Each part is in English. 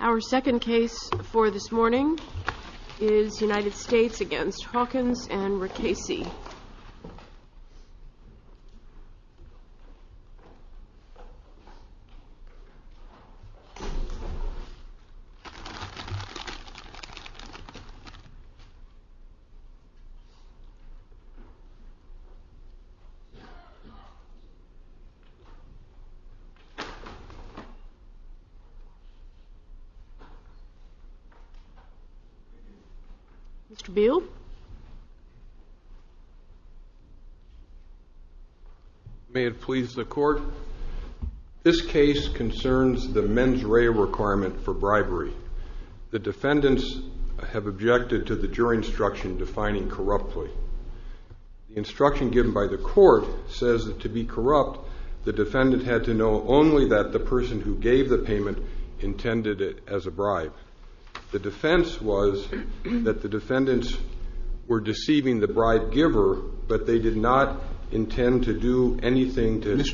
Our second case for this morning is United States v. Hawkins and Rakesi. This case concerns the mens rea requirement for bribery. The defendants have objected to the jury instruction defining corruptly. The instruction given by the court says that to be corrupt, the defendant had to know only that the person who gave the payment intended it as a bribe. The defense was that the defendants were deceiving the bribe giver, but they did not intend to do anything to… The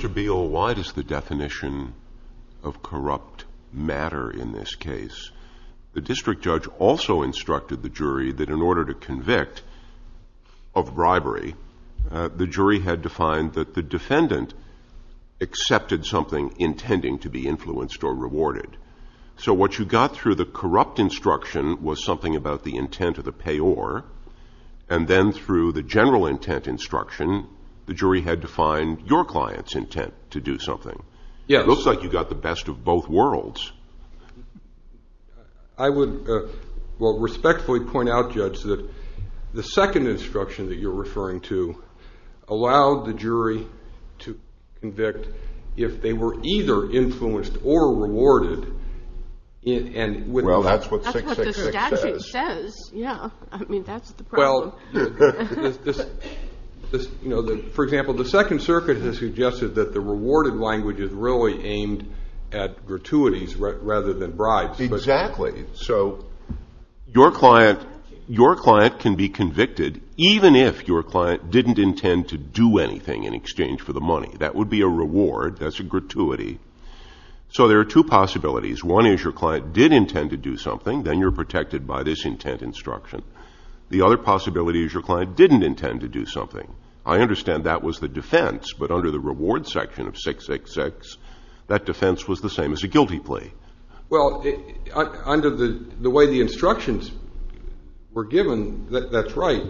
district judge also instructed the jury that in order to convict of bribery, the jury had to find that the defendant accepted something intending to be influenced or rewarded. So what you got through the corrupt instruction was something about the intent of the payor, and then through the general intent instruction, the jury had to find your client's intent to do something. It looks like you got the best of both worlds. I would respectfully point out, Judge, that the second instruction that you're referring to allowed the jury to convict if they were either influenced or rewarded. Well, that's what the statute says. For example, the Second Circuit has suggested that the rewarded language is really aimed at gratuities rather than bribes. Exactly. So your client can be convicted even if your client didn't intend to do anything in exchange for the money. That would be a reward. That's a gratuity. So there are two possibilities. One is your client did intend to do something, then you're protected by this intent instruction. The other possibility is your client didn't intend to do something. I understand that was the defense, but under the reward section of 666, that defense was the same as a guilty plea. Well, under the way the instructions were given, that's right.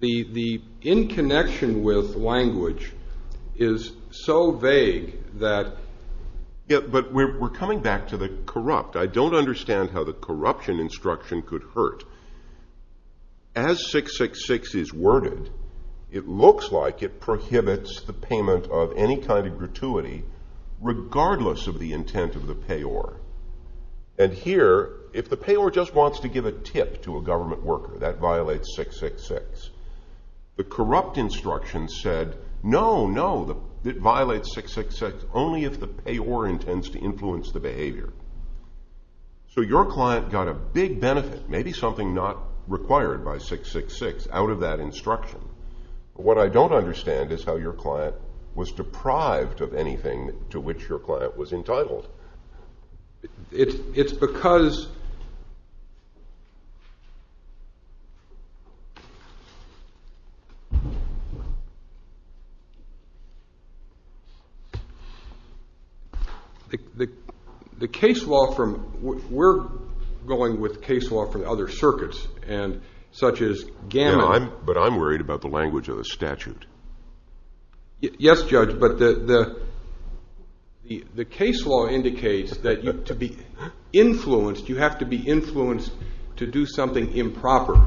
The in connection with language is so vague that... But we're coming back to the corrupt. I don't understand how the corruption instruction could hurt. As 666 is worded, it looks like it prohibits the payment of any kind of gratuity regardless of the intent of the payor. And here, if the payor just wants to give a tip to a government worker, that violates 666. The corrupt instruction said, no, no, it violates 666 only if the payor intends to influence the behavior. So your client got a big benefit, maybe something not required by 666, out of that instruction. What I don't understand is how your client was deprived of anything to which your client was entitled. It's because... The case law from, we're going with case law from other circuits, and such as Gannon. But I'm worried about the language of the statute. Yes, Judge, but the case law indicates that to be influenced, you have to be influenced to do something improper.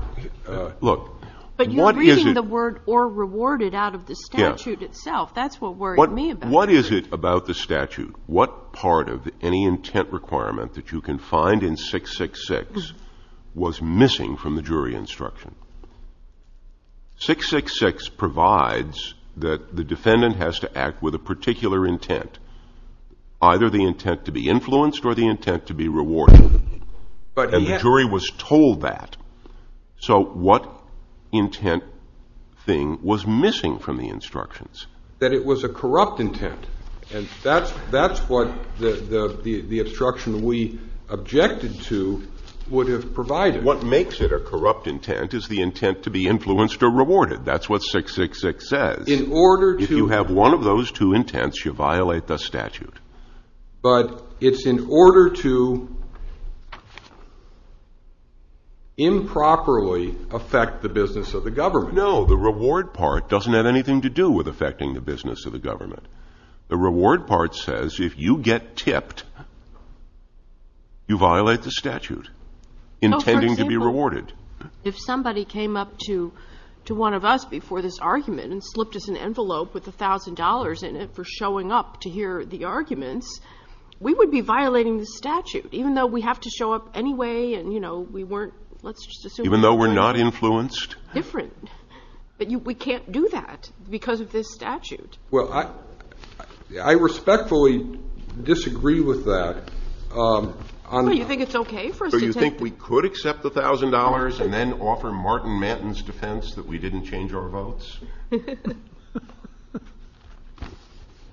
Look, what is it... But you're reading the word or rewarded out of the statute itself. That's what worried me about it. But what is it about the statute, what part of any intent requirement that you can find in 666 was missing from the jury instruction? 666 provides that the defendant has to act with a particular intent, either the intent to be influenced or the intent to be rewarded. And the jury was told that. So what intent thing was missing from the instructions? That it was a corrupt intent. And that's what the instruction we objected to would have provided. What makes it a corrupt intent is the intent to be influenced or rewarded. That's what 666 says. In order to... If you have one of those two intents, you violate the statute. But it's in order to improperly affect the business of the government. No, the reward part doesn't have anything to do with affecting the business of the government. The reward part says if you get tipped, you violate the statute, intending to be rewarded. If somebody came up to one of us before this argument and slipped us an envelope with $1,000 in it for showing up to hear the arguments, we would be violating the statute, even though we have to show up anyway and, you know, we weren't... Even though we're not influenced? Different. But we can't do that because of this statute. Well, I respectfully disagree with that. Well, you think it's okay for us to take... So you think we could accept the $1,000 and then offer Martin Manton's defense that we didn't change our votes?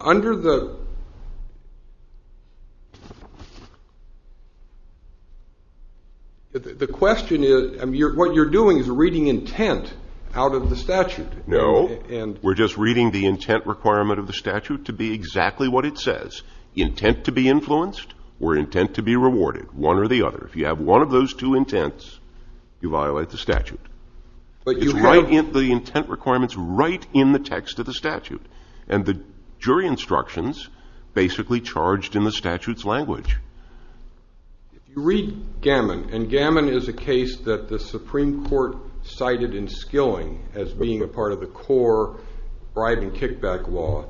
Under the... The question is, what you're doing is reading intent out of the statute. No. We're just reading the intent requirement of the statute to be exactly what it says, intent to be influenced or intent to be rewarded, one or the other. If you have one of those two intents, you violate the statute. It's right in the intent requirements, right in the text of the statute. And the jury instructions basically charged in the statute's language. You read Gammon, and Gammon is a case that the Supreme Court cited in Skilling as being a part of the core bribe and kickback law.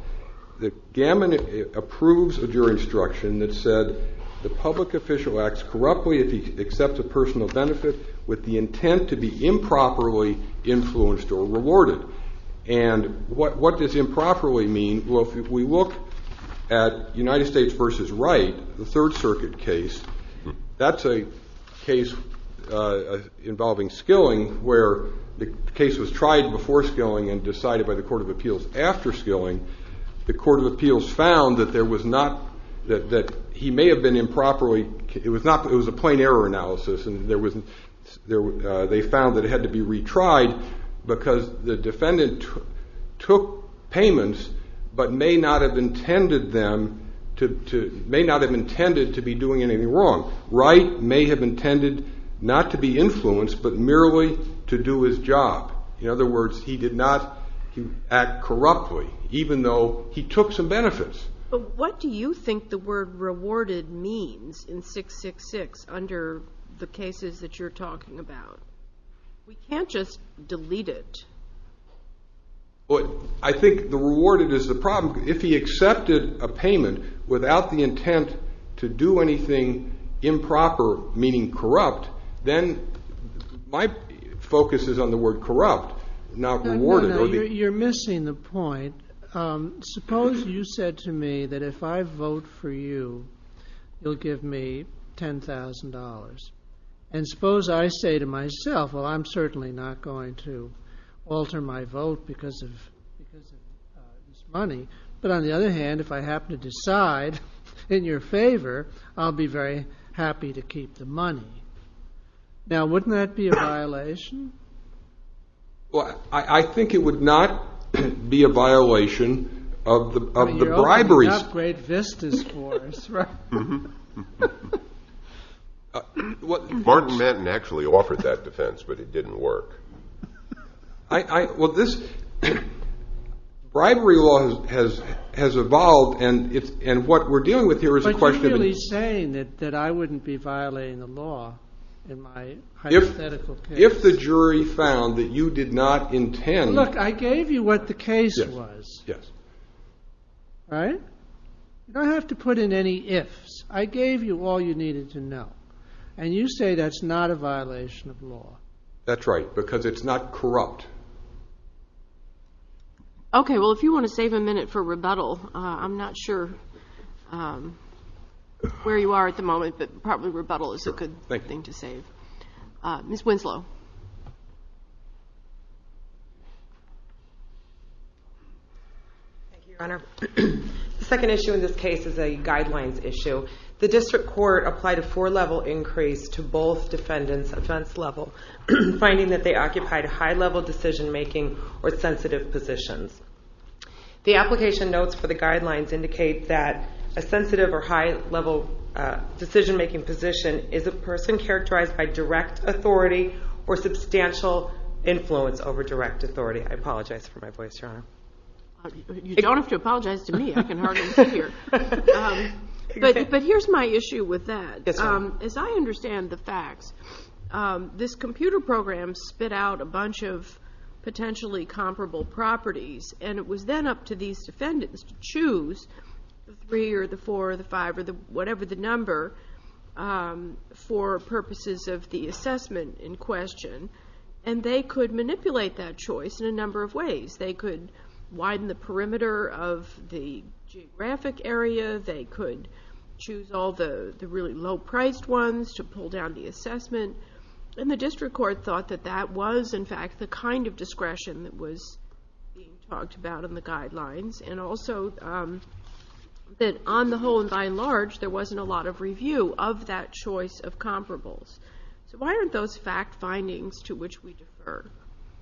Gammon approves a jury instruction that said the public official acts corruptly if he accepts a personal benefit with the intent to be improperly influenced or rewarded. And what does improperly mean? Well, if we look at United States v. Wright, the Third Circuit case, that's a case involving Skilling where the case was tried before Skilling and decided by the Court of Appeals after Skilling. The Court of Appeals found that there was not, that he may have been improperly, it was a plain error analysis, and they found that it had to be retried because the defendant took payments but may not have intended them to, may not have intended to be doing anything wrong. Wright may have intended not to be influenced but merely to do his job. In other words, he did not act corruptly even though he took some benefits. But what do you think the word rewarded means in 666 under the cases that you're talking about? We can't just delete it. I think the rewarded is the problem. If he accepted a payment without the intent to do anything improper, meaning corrupt, then my focus is on the word corrupt, not rewarded. You're missing the point. Suppose you said to me that if I vote for you, you'll give me $10,000. And suppose I say to myself, well, I'm certainly not going to alter my vote because of this money. But on the other hand, if I happen to decide in your favor, I'll be very happy to keep the money. Now, wouldn't that be a violation? Well, I think it would not be a violation of the bribery. You're opening up great vistas for us, right? Martin Madden actually offered that defense, but it didn't work. Well, this bribery law has evolved, and what we're dealing with here is a question of – But you're really saying that I wouldn't be violating the law in my hypothetical case. And if the jury found that you did not intend – Look, I gave you what the case was, right? You don't have to put in any ifs. I gave you all you needed to know, and you say that's not a violation of law. That's right, because it's not corrupt. Okay, well, if you want to save a minute for rebuttal, I'm not sure where you are at the moment, but probably rebuttal is a good thing to save. Ms. Winslow. Thank you, Your Honor. The second issue in this case is a guidelines issue. The district court applied a four-level increase to both defendants' offense level, finding that they occupied high-level decision-making or sensitive positions. The application notes for the guidelines indicate that a sensitive or high-level decision-making position is a person characterized by direct authority or substantial influence over direct authority. I apologize for my voice, Your Honor. You don't have to apologize to me. I can hardly hear. But here's my issue with that. Yes, Your Honor. As I understand the facts, this computer program spit out a bunch of potentially comparable properties, and it was then up to these defendants to choose the three or the four or the five or whatever the number for purposes of the assessment in question, and they could manipulate that choice in a number of ways. They could widen the perimeter of the geographic area. They could choose all the really low-priced ones to pull down the assessment, and the district court thought that that was, in fact, the kind of discretion that was being talked about in the guidelines and also that, on the whole and by and large, there wasn't a lot of review of that choice of comparables. So why aren't those fact findings to which we defer?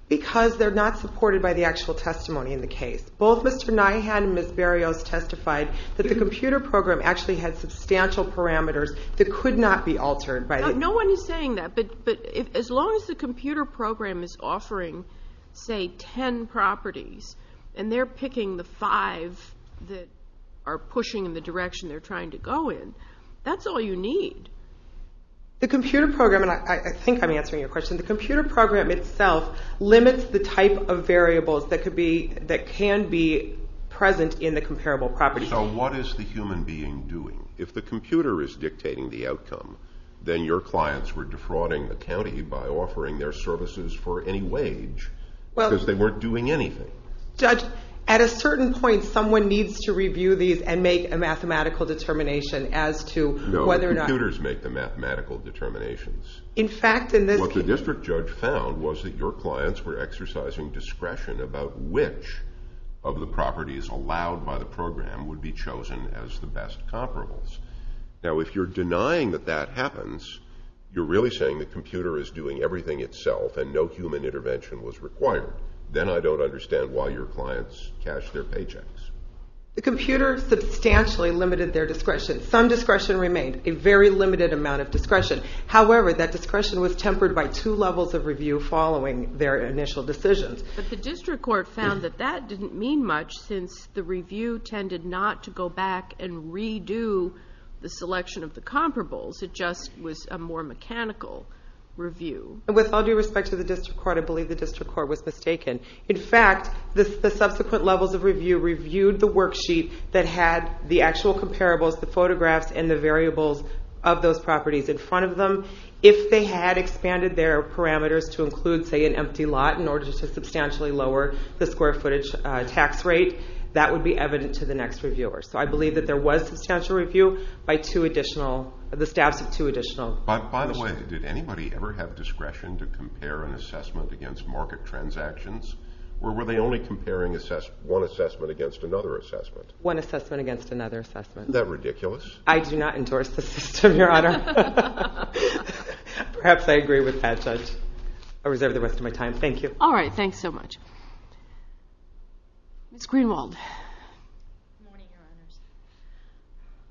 Because they're not supported by the actual testimony in the case. Both Mr. Nyhan and Ms. Berrios testified that the computer program actually had substantial parameters that could not be altered by the I'm not saying that, but as long as the computer program is offering, say, ten properties and they're picking the five that are pushing in the direction they're trying to go in, that's all you need. The computer program, and I think I'm answering your question, the computer program itself limits the type of variables that can be present in the comparable properties. So what is the human being doing? If the computer is dictating the outcome, then your clients were defrauding the county by offering their services for any wage because they weren't doing anything. Judge, at a certain point, someone needs to review these and make a mathematical determination as to whether or not No, the computers make the mathematical determinations. In fact, in this case What the district judge found was that your clients were exercising discretion about which of the properties allowed by the program would be chosen as the best comparables. Now, if you're denying that that happens, you're really saying the computer is doing everything itself and no human intervention was required. Then I don't understand why your clients cashed their paychecks. The computer substantially limited their discretion. Some discretion remained, a very limited amount of discretion. However, that discretion was tempered by two levels of review following their initial decisions. But the district court found that that didn't mean much since the review tended not to go back and redo the selection of the comparables. It just was a more mechanical review. With all due respect to the district court, I believe the district court was mistaken. In fact, the subsequent levels of review reviewed the worksheet that had the actual comparables, the photographs, and the variables of those properties in front of them. If they had expanded their parameters to include, say, an empty lot in order to substantially lower the square footage tax rate, that would be evident to the next reviewer. So I believe that there was substantial review by the staffs of two additional. By the way, did anybody ever have discretion to compare an assessment against market transactions? Or were they only comparing one assessment against another assessment? One assessment against another assessment. Isn't that ridiculous? I do not endorse the system, Your Honor. Perhaps I agree with that. I reserve the rest of my time. Thank you. All right. Thanks so much. Ms. Greenwald.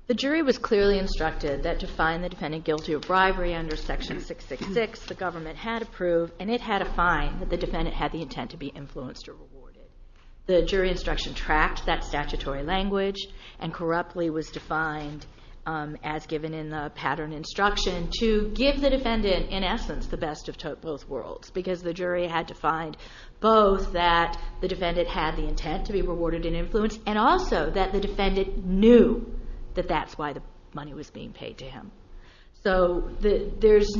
The jury was clearly instructed that to find the defendant guilty of bribery under Section 666, the government had approved and it had a fine that the defendant had the intent to be influenced or rewarded. The jury instruction tracked that statutory language and corruptly was defined as given in the pattern instruction to give the defendant, in essence, the best of both worlds because the jury had to find both that the defendant had the intent to be rewarded and influenced and also that the defendant knew that that's why the money was being paid to him. So there's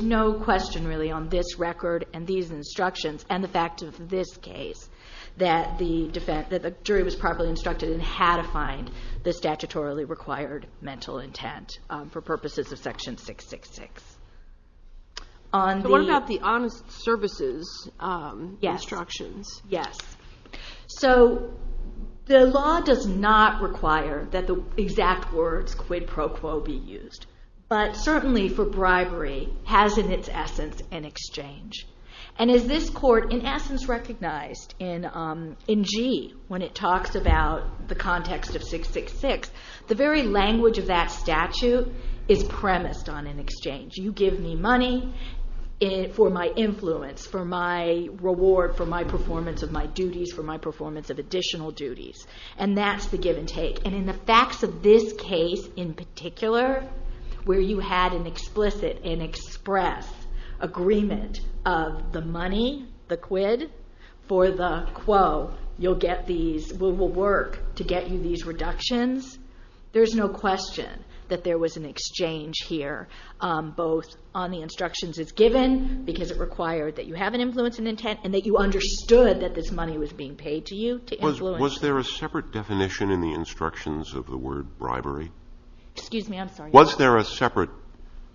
no question really on this record and these instructions and the fact of this case that the jury was properly instructed and had a fine, the statutorily required mental intent for purposes of Section 666. So what about the honest services instructions? Yes. So the law does not require that the exact words quid pro quo be used, but certainly for bribery has in its essence an exchange. And as this court in essence recognized in G when it talks about the context of 666, the very language of that statute is premised on an exchange. You give me money for my influence, for my reward, for my performance of my duties, for my performance of additional duties. And that's the give and take. And in the facts of this case in particular, where you had an explicit and express agreement of the money, the quid, for the quo, you'll get these, will work to get you these reductions. There's no question that there was an exchange here, both on the instructions as given because it required that you have an influence and intent and that you understood that this money was being paid to you to influence. Was there a separate definition in the instructions of the word bribery? Excuse me, I'm sorry. Was there a separate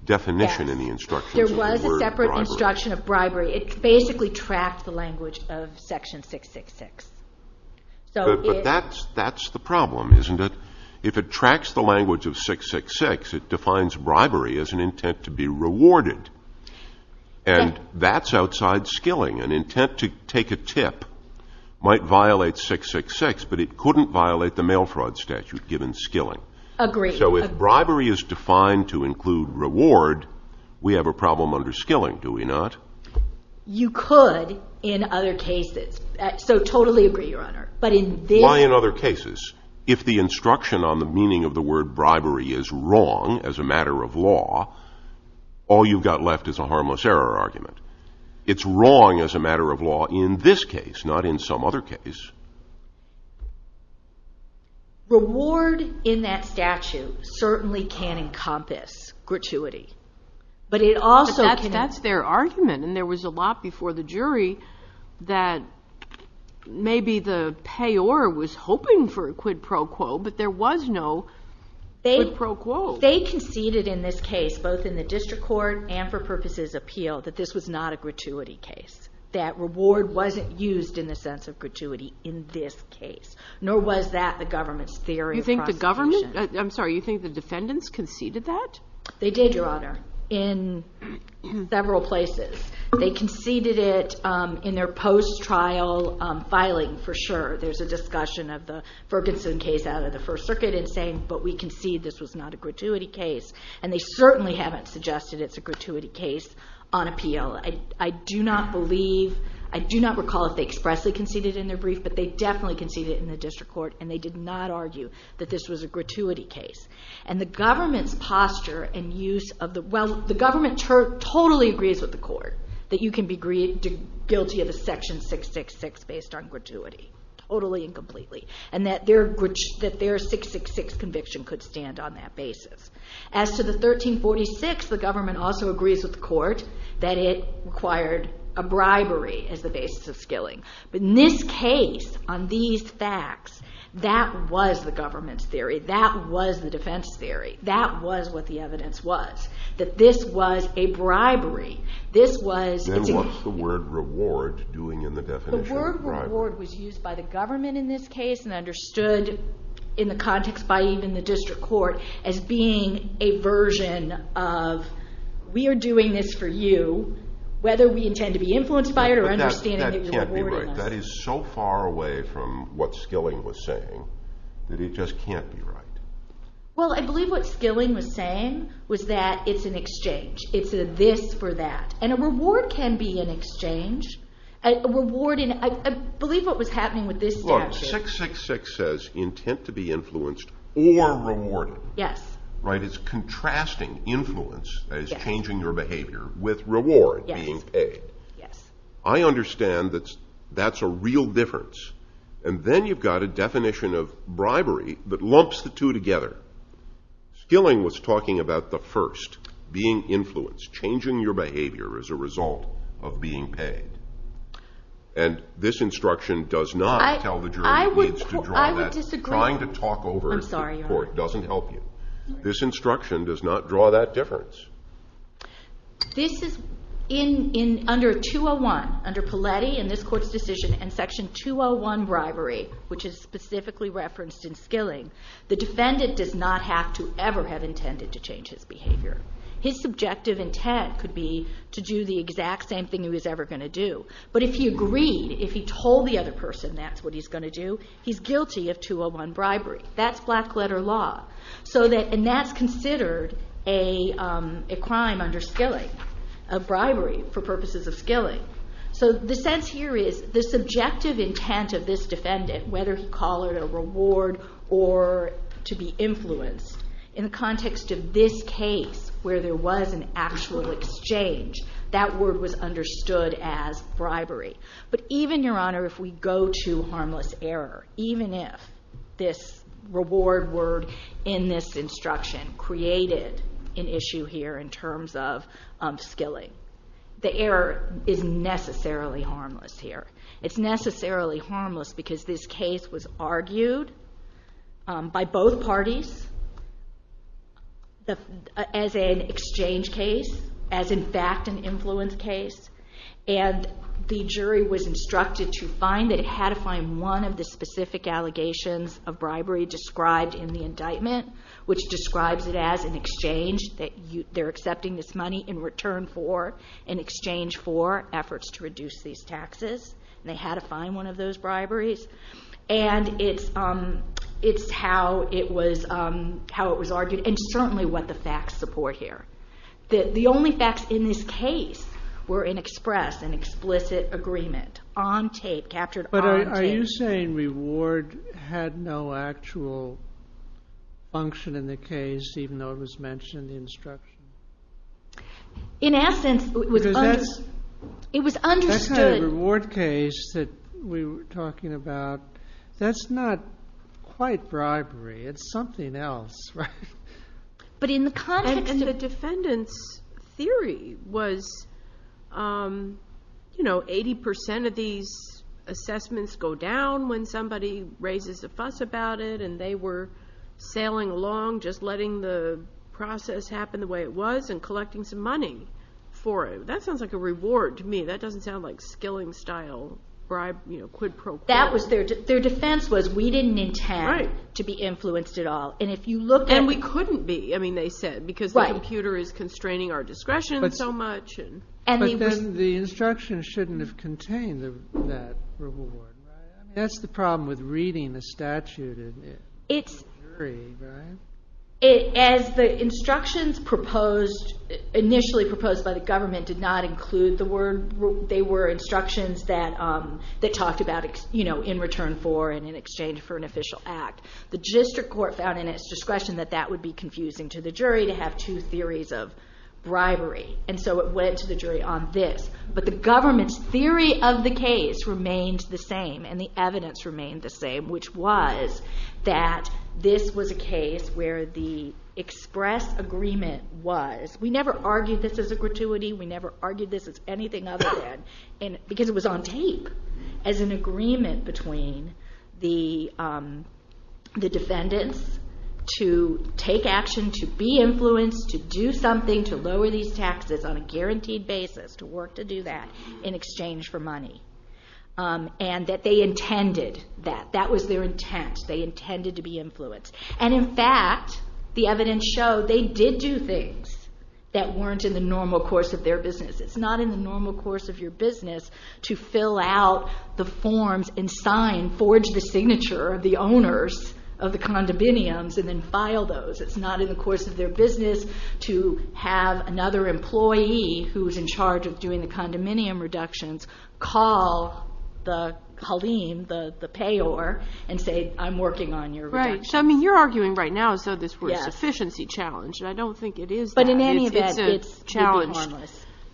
definition in the instructions of the word bribery? There was a separate instruction of bribery. It basically tracked the language of section 666. But that's the problem, isn't it? If it tracks the language of 666, it defines bribery as an intent to be rewarded. And that's outside skilling. An intent to take a tip might violate 666, but it couldn't violate the mail fraud statute given skilling. Agreed. So if bribery is defined to include reward, we have a problem under skilling, do we not? You could in other cases. So totally agree, Your Honor. Why in other cases? If the instruction on the meaning of the word bribery is wrong as a matter of law, all you've got left is a harmless error argument. It's wrong as a matter of law in this case, not in some other case. Reward in that statute certainly can encompass gratuity. But it also can't. But that's their argument. And there was a lot before the jury that maybe the payor was hoping for a quid pro quo, but there was no quid pro quo. They conceded in this case, both in the district court and for purposes of appeal, that this was not a gratuity case, that reward wasn't used in the sense of gratuity in this case, nor was that the government's theory of prosecution. You think the government? I'm sorry. You think the defendants conceded that? They did, Your Honor, in several places. They conceded it in their post-trial filing for sure. There's a discussion of the Ferguson case out of the First Circuit in saying, but we concede this was not a gratuity case. And they certainly haven't suggested it's a gratuity case on appeal. I do not recall if they expressly conceded it in their brief, but they definitely conceded it in the district court, and they did not argue that this was a gratuity case. And the government's posture and use of the well, the government totally agrees with the court that you can be guilty of a section 666 based on gratuity, totally and completely, and that their 666 conviction could stand on that basis. As to the 1346, the government also agrees with the court that it required a bribery as the basis of skilling. But in this case, on these facts, that was the government's theory. That was the defense theory. That was what the evidence was, that this was a bribery. Then what's the word reward doing in the definition of bribery? The word reward was used by the government in this case and understood in the context by even the district court as being a version of we are doing this for you, whether we intend to be influenced by it or understanding that you're rewarding us. But that can't be right. That is so far away from what skilling was saying that it just can't be right. Well, I believe what skilling was saying was that it's an exchange. It's a this for that. And a reward can be an exchange. I believe what was happening with this statute. 666 says intent to be influenced or rewarded. It's contrasting influence as changing your behavior with reward being paid. I understand that that's a real difference. And then you've got a definition of bribery that lumps the two together. Skilling was talking about the first, being influenced, changing your behavior as a result of being paid. And this instruction does not tell the jury it needs to draw that. I would disagree. Trying to talk over the court doesn't help you. This instruction does not draw that difference. This is under 201, under Paletti in this court's decision and section 201 bribery, which is specifically referenced in skilling, his subjective intent could be to do the exact same thing he was ever going to do. But if he agreed, if he told the other person that's what he's going to do, he's guilty of 201 bribery. That's black letter law. And that's considered a crime under skilling, a bribery for purposes of skilling. So the sense here is the subjective intent of this defendant, whether you call it a reward or to be influenced, in the context of this case where there was an actual exchange, that word was understood as bribery. But even, Your Honor, if we go to harmless error, even if this reward word in this instruction created an issue here in terms of skilling, the error is necessarily harmless here. It's necessarily harmless because this case was argued by both parties as an exchange case, as in fact an influence case, and the jury was instructed to find that it had to find one of the specific allegations of bribery described in the indictment, which describes it as an exchange, that they're accepting this money in return for, in exchange for efforts to reduce these taxes, and they had to find one of those briberies. And it's how it was argued and certainly what the facts support here. The only facts in this case were in express, an explicit agreement, on tape, captured on tape. Are you saying reward had no actual function in the case, even though it was mentioned in the instruction? In essence, it was understood. That kind of reward case that we were talking about, that's not quite bribery. It's something else, right? And the defendant's theory was, you know, 80% of these assessments go down when somebody raises a fuss about it and they were sailing along, just letting the process happen the way it was and collecting some money for it. That sounds like a reward to me. That doesn't sound like skilling-style bribe, you know, quid pro quo. Their defense was we didn't intend to be influenced at all. And we couldn't be, I mean, they said, because the computer is constraining our discretion so much. But then the instruction shouldn't have contained that reward, right? I mean, that's the problem with reading a statute in a jury, right? As the instructions initially proposed by the government did not include the word they were instructions that talked about, you know, in return for and in exchange for an official act. The district court found in its discretion that that would be confusing to the jury to have two theories of bribery. And so it went to the jury on this. But the government's theory of the case remained the same and the evidence remained the same, which was that this was a case where the express agreement was, we never argued this as a gratuity, we never argued this as anything other than, because it was on tape, as an agreement between the defendants to take action, to be influenced, to do something to lower these taxes on a guaranteed basis, to work to do that in exchange for money. And that they intended that. That was their intent. They intended to be influenced. And, in fact, the evidence showed they did do things that weren't in the normal course of their business. It's not in the normal course of your business to fill out the forms and sign, forge the signature of the owners of the condominiums and then file those. It's not in the course of their business to have another employee who's in charge of doing the condominium reductions call the Haleem, the payor, and say, I'm working on your reductions. Right. So, I mean, you're arguing right now as though this were a sufficiency challenge. Yes. And I don't think it is that. But in any event, it's challenged.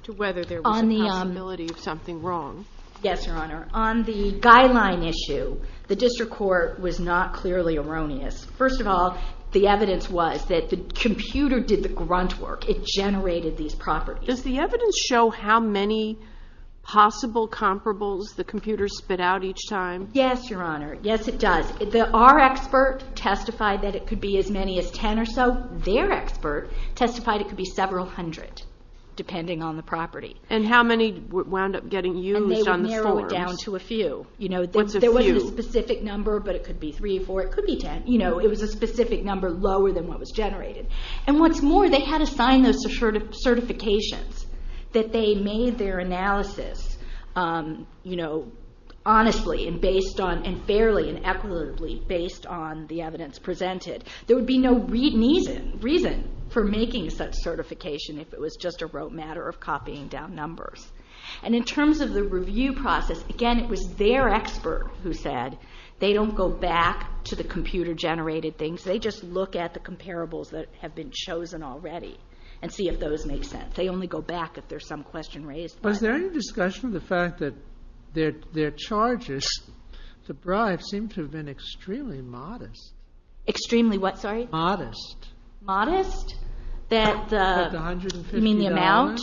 To whether there was a possibility of something wrong. Yes, Your Honor. On the guideline issue, the district court was not clearly erroneous. First of all, the evidence was that the computer did the grunt work. It generated these properties. Does the evidence show how many possible comparables the computer spit out each time? Yes, Your Honor. Yes, it does. Our expert testified that it could be as many as 10 or so. Their expert testified it could be several hundred, depending on the property. And how many wound up getting used on the stores? And they would narrow it down to a few. What's a few? There wasn't a specific number, but it could be three or four. It could be 10. It was a specific number lower than what was generated. And what's more, they had assigned those certifications that they made their analysis honestly and fairly and equitably based on the evidence presented. There would be no reason for making such certification if it was just a rote matter of copying down numbers. And in terms of the review process, again, it was their expert who said they don't go back to the computer-generated things. They just look at the comparables that have been chosen already and see if those make sense. They only go back if there's some question raised. Was there any discussion of the fact that their charges, the bribes, seem to have been extremely modest? Extremely what? Sorry? Modest. Modest? You mean the amount?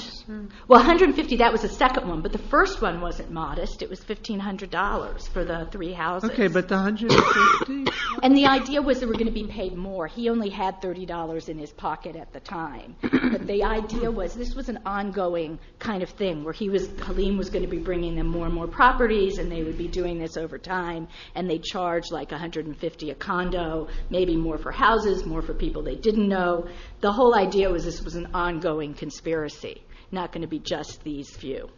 Well, $150, that was the second one. But the first one wasn't modest. It was $1,500 for the three houses. Okay, but the $150? And the idea was they were going to be paid more. He only had $30 in his pocket at the time. But the idea was this was an ongoing kind of thing where Halim was going to be bringing them more and more properties, and they would be doing this over time, and they'd charge like $150 a condo, maybe more for houses, more for people they didn't know. The whole idea was this was an ongoing conspiracy, not going to be just these few.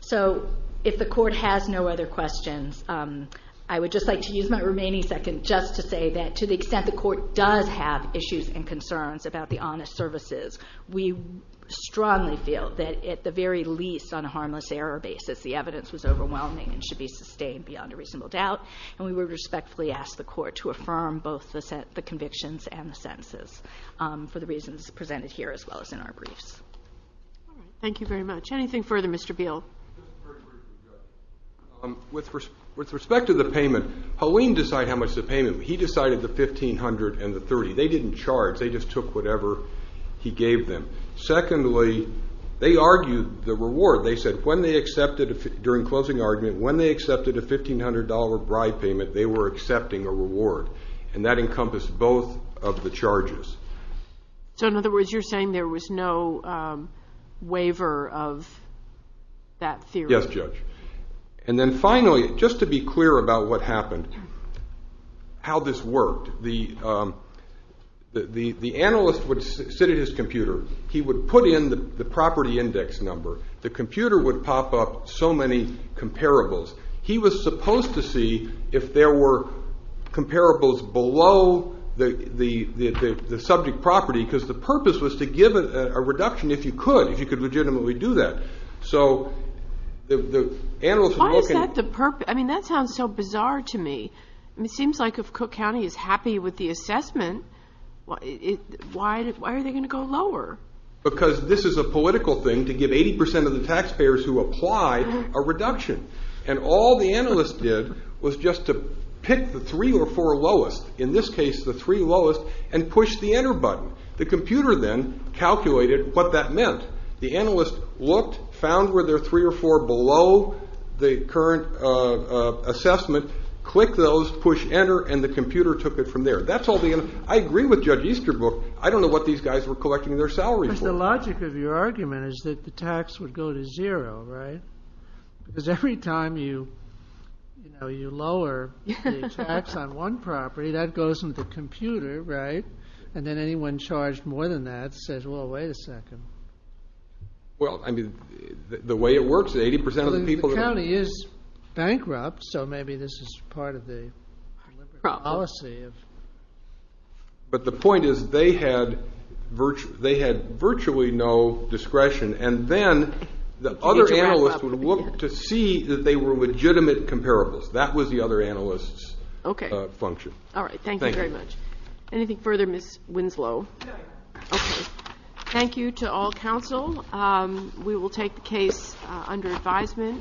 So if the Court has no other questions, I would just like to use my remaining second just to say that to the extent the Court does have issues and concerns about the honest services, we strongly feel that at the very least on a harmless error basis the evidence was overwhelming and should be sustained beyond a reasonable doubt, and we would respectfully ask the Court to affirm both the convictions and the sentences for the reasons presented here as well as in our briefs. All right. Thank you very much. Anything further, Mr. Beal? With respect to the payment, Halim decided how much the payment was. He decided the $1,500 and the $30. They didn't charge. They just took whatever he gave them. Secondly, they argued the reward. They said when they accepted, during closing argument, when they accepted a $1,500 bribe payment, they were accepting a reward, and that encompassed both of the charges. So in other words, you're saying there was no waiver of that theory? Yes, Judge. And then finally, just to be clear about what happened, how this worked. The analyst would sit at his computer. He would put in the property index number. The computer would pop up so many comparables. He was supposed to see if there were comparables below the subject property because the purpose was to give a reduction if you could, if you could legitimately do that. Why is that the purpose? I mean, that sounds so bizarre to me. It seems like if Cook County is happy with the assessment, why are they going to go lower? Because this is a political thing to give 80% of the taxpayers who apply a reduction. And all the analyst did was just to pick the three or four lowest, in this case the three lowest, and push the enter button. The computer then calculated what that meant. The analyst looked, found where there are three or four below the current assessment, clicked those, pushed enter, and the computer took it from there. I agree with Judge Easterbrook. I don't know what these guys were collecting their salary for. But the logic of your argument is that the tax would go to zero, right? Because every time you lower the tax on one property, that goes into the computer, right? And then anyone charged more than that says, well, wait a second. Well, I mean, the way it works, 80% of the people in the county is bankrupt, so maybe this is part of the policy. But the point is they had virtually no discretion. And then the other analyst would look to see that they were legitimate comparables. That was the other analyst's function. All right. Thank you very much. Anything further, Ms. Winslow? No, Your Honor. Okay. Thank you to all counsel. We will take the case under advisement.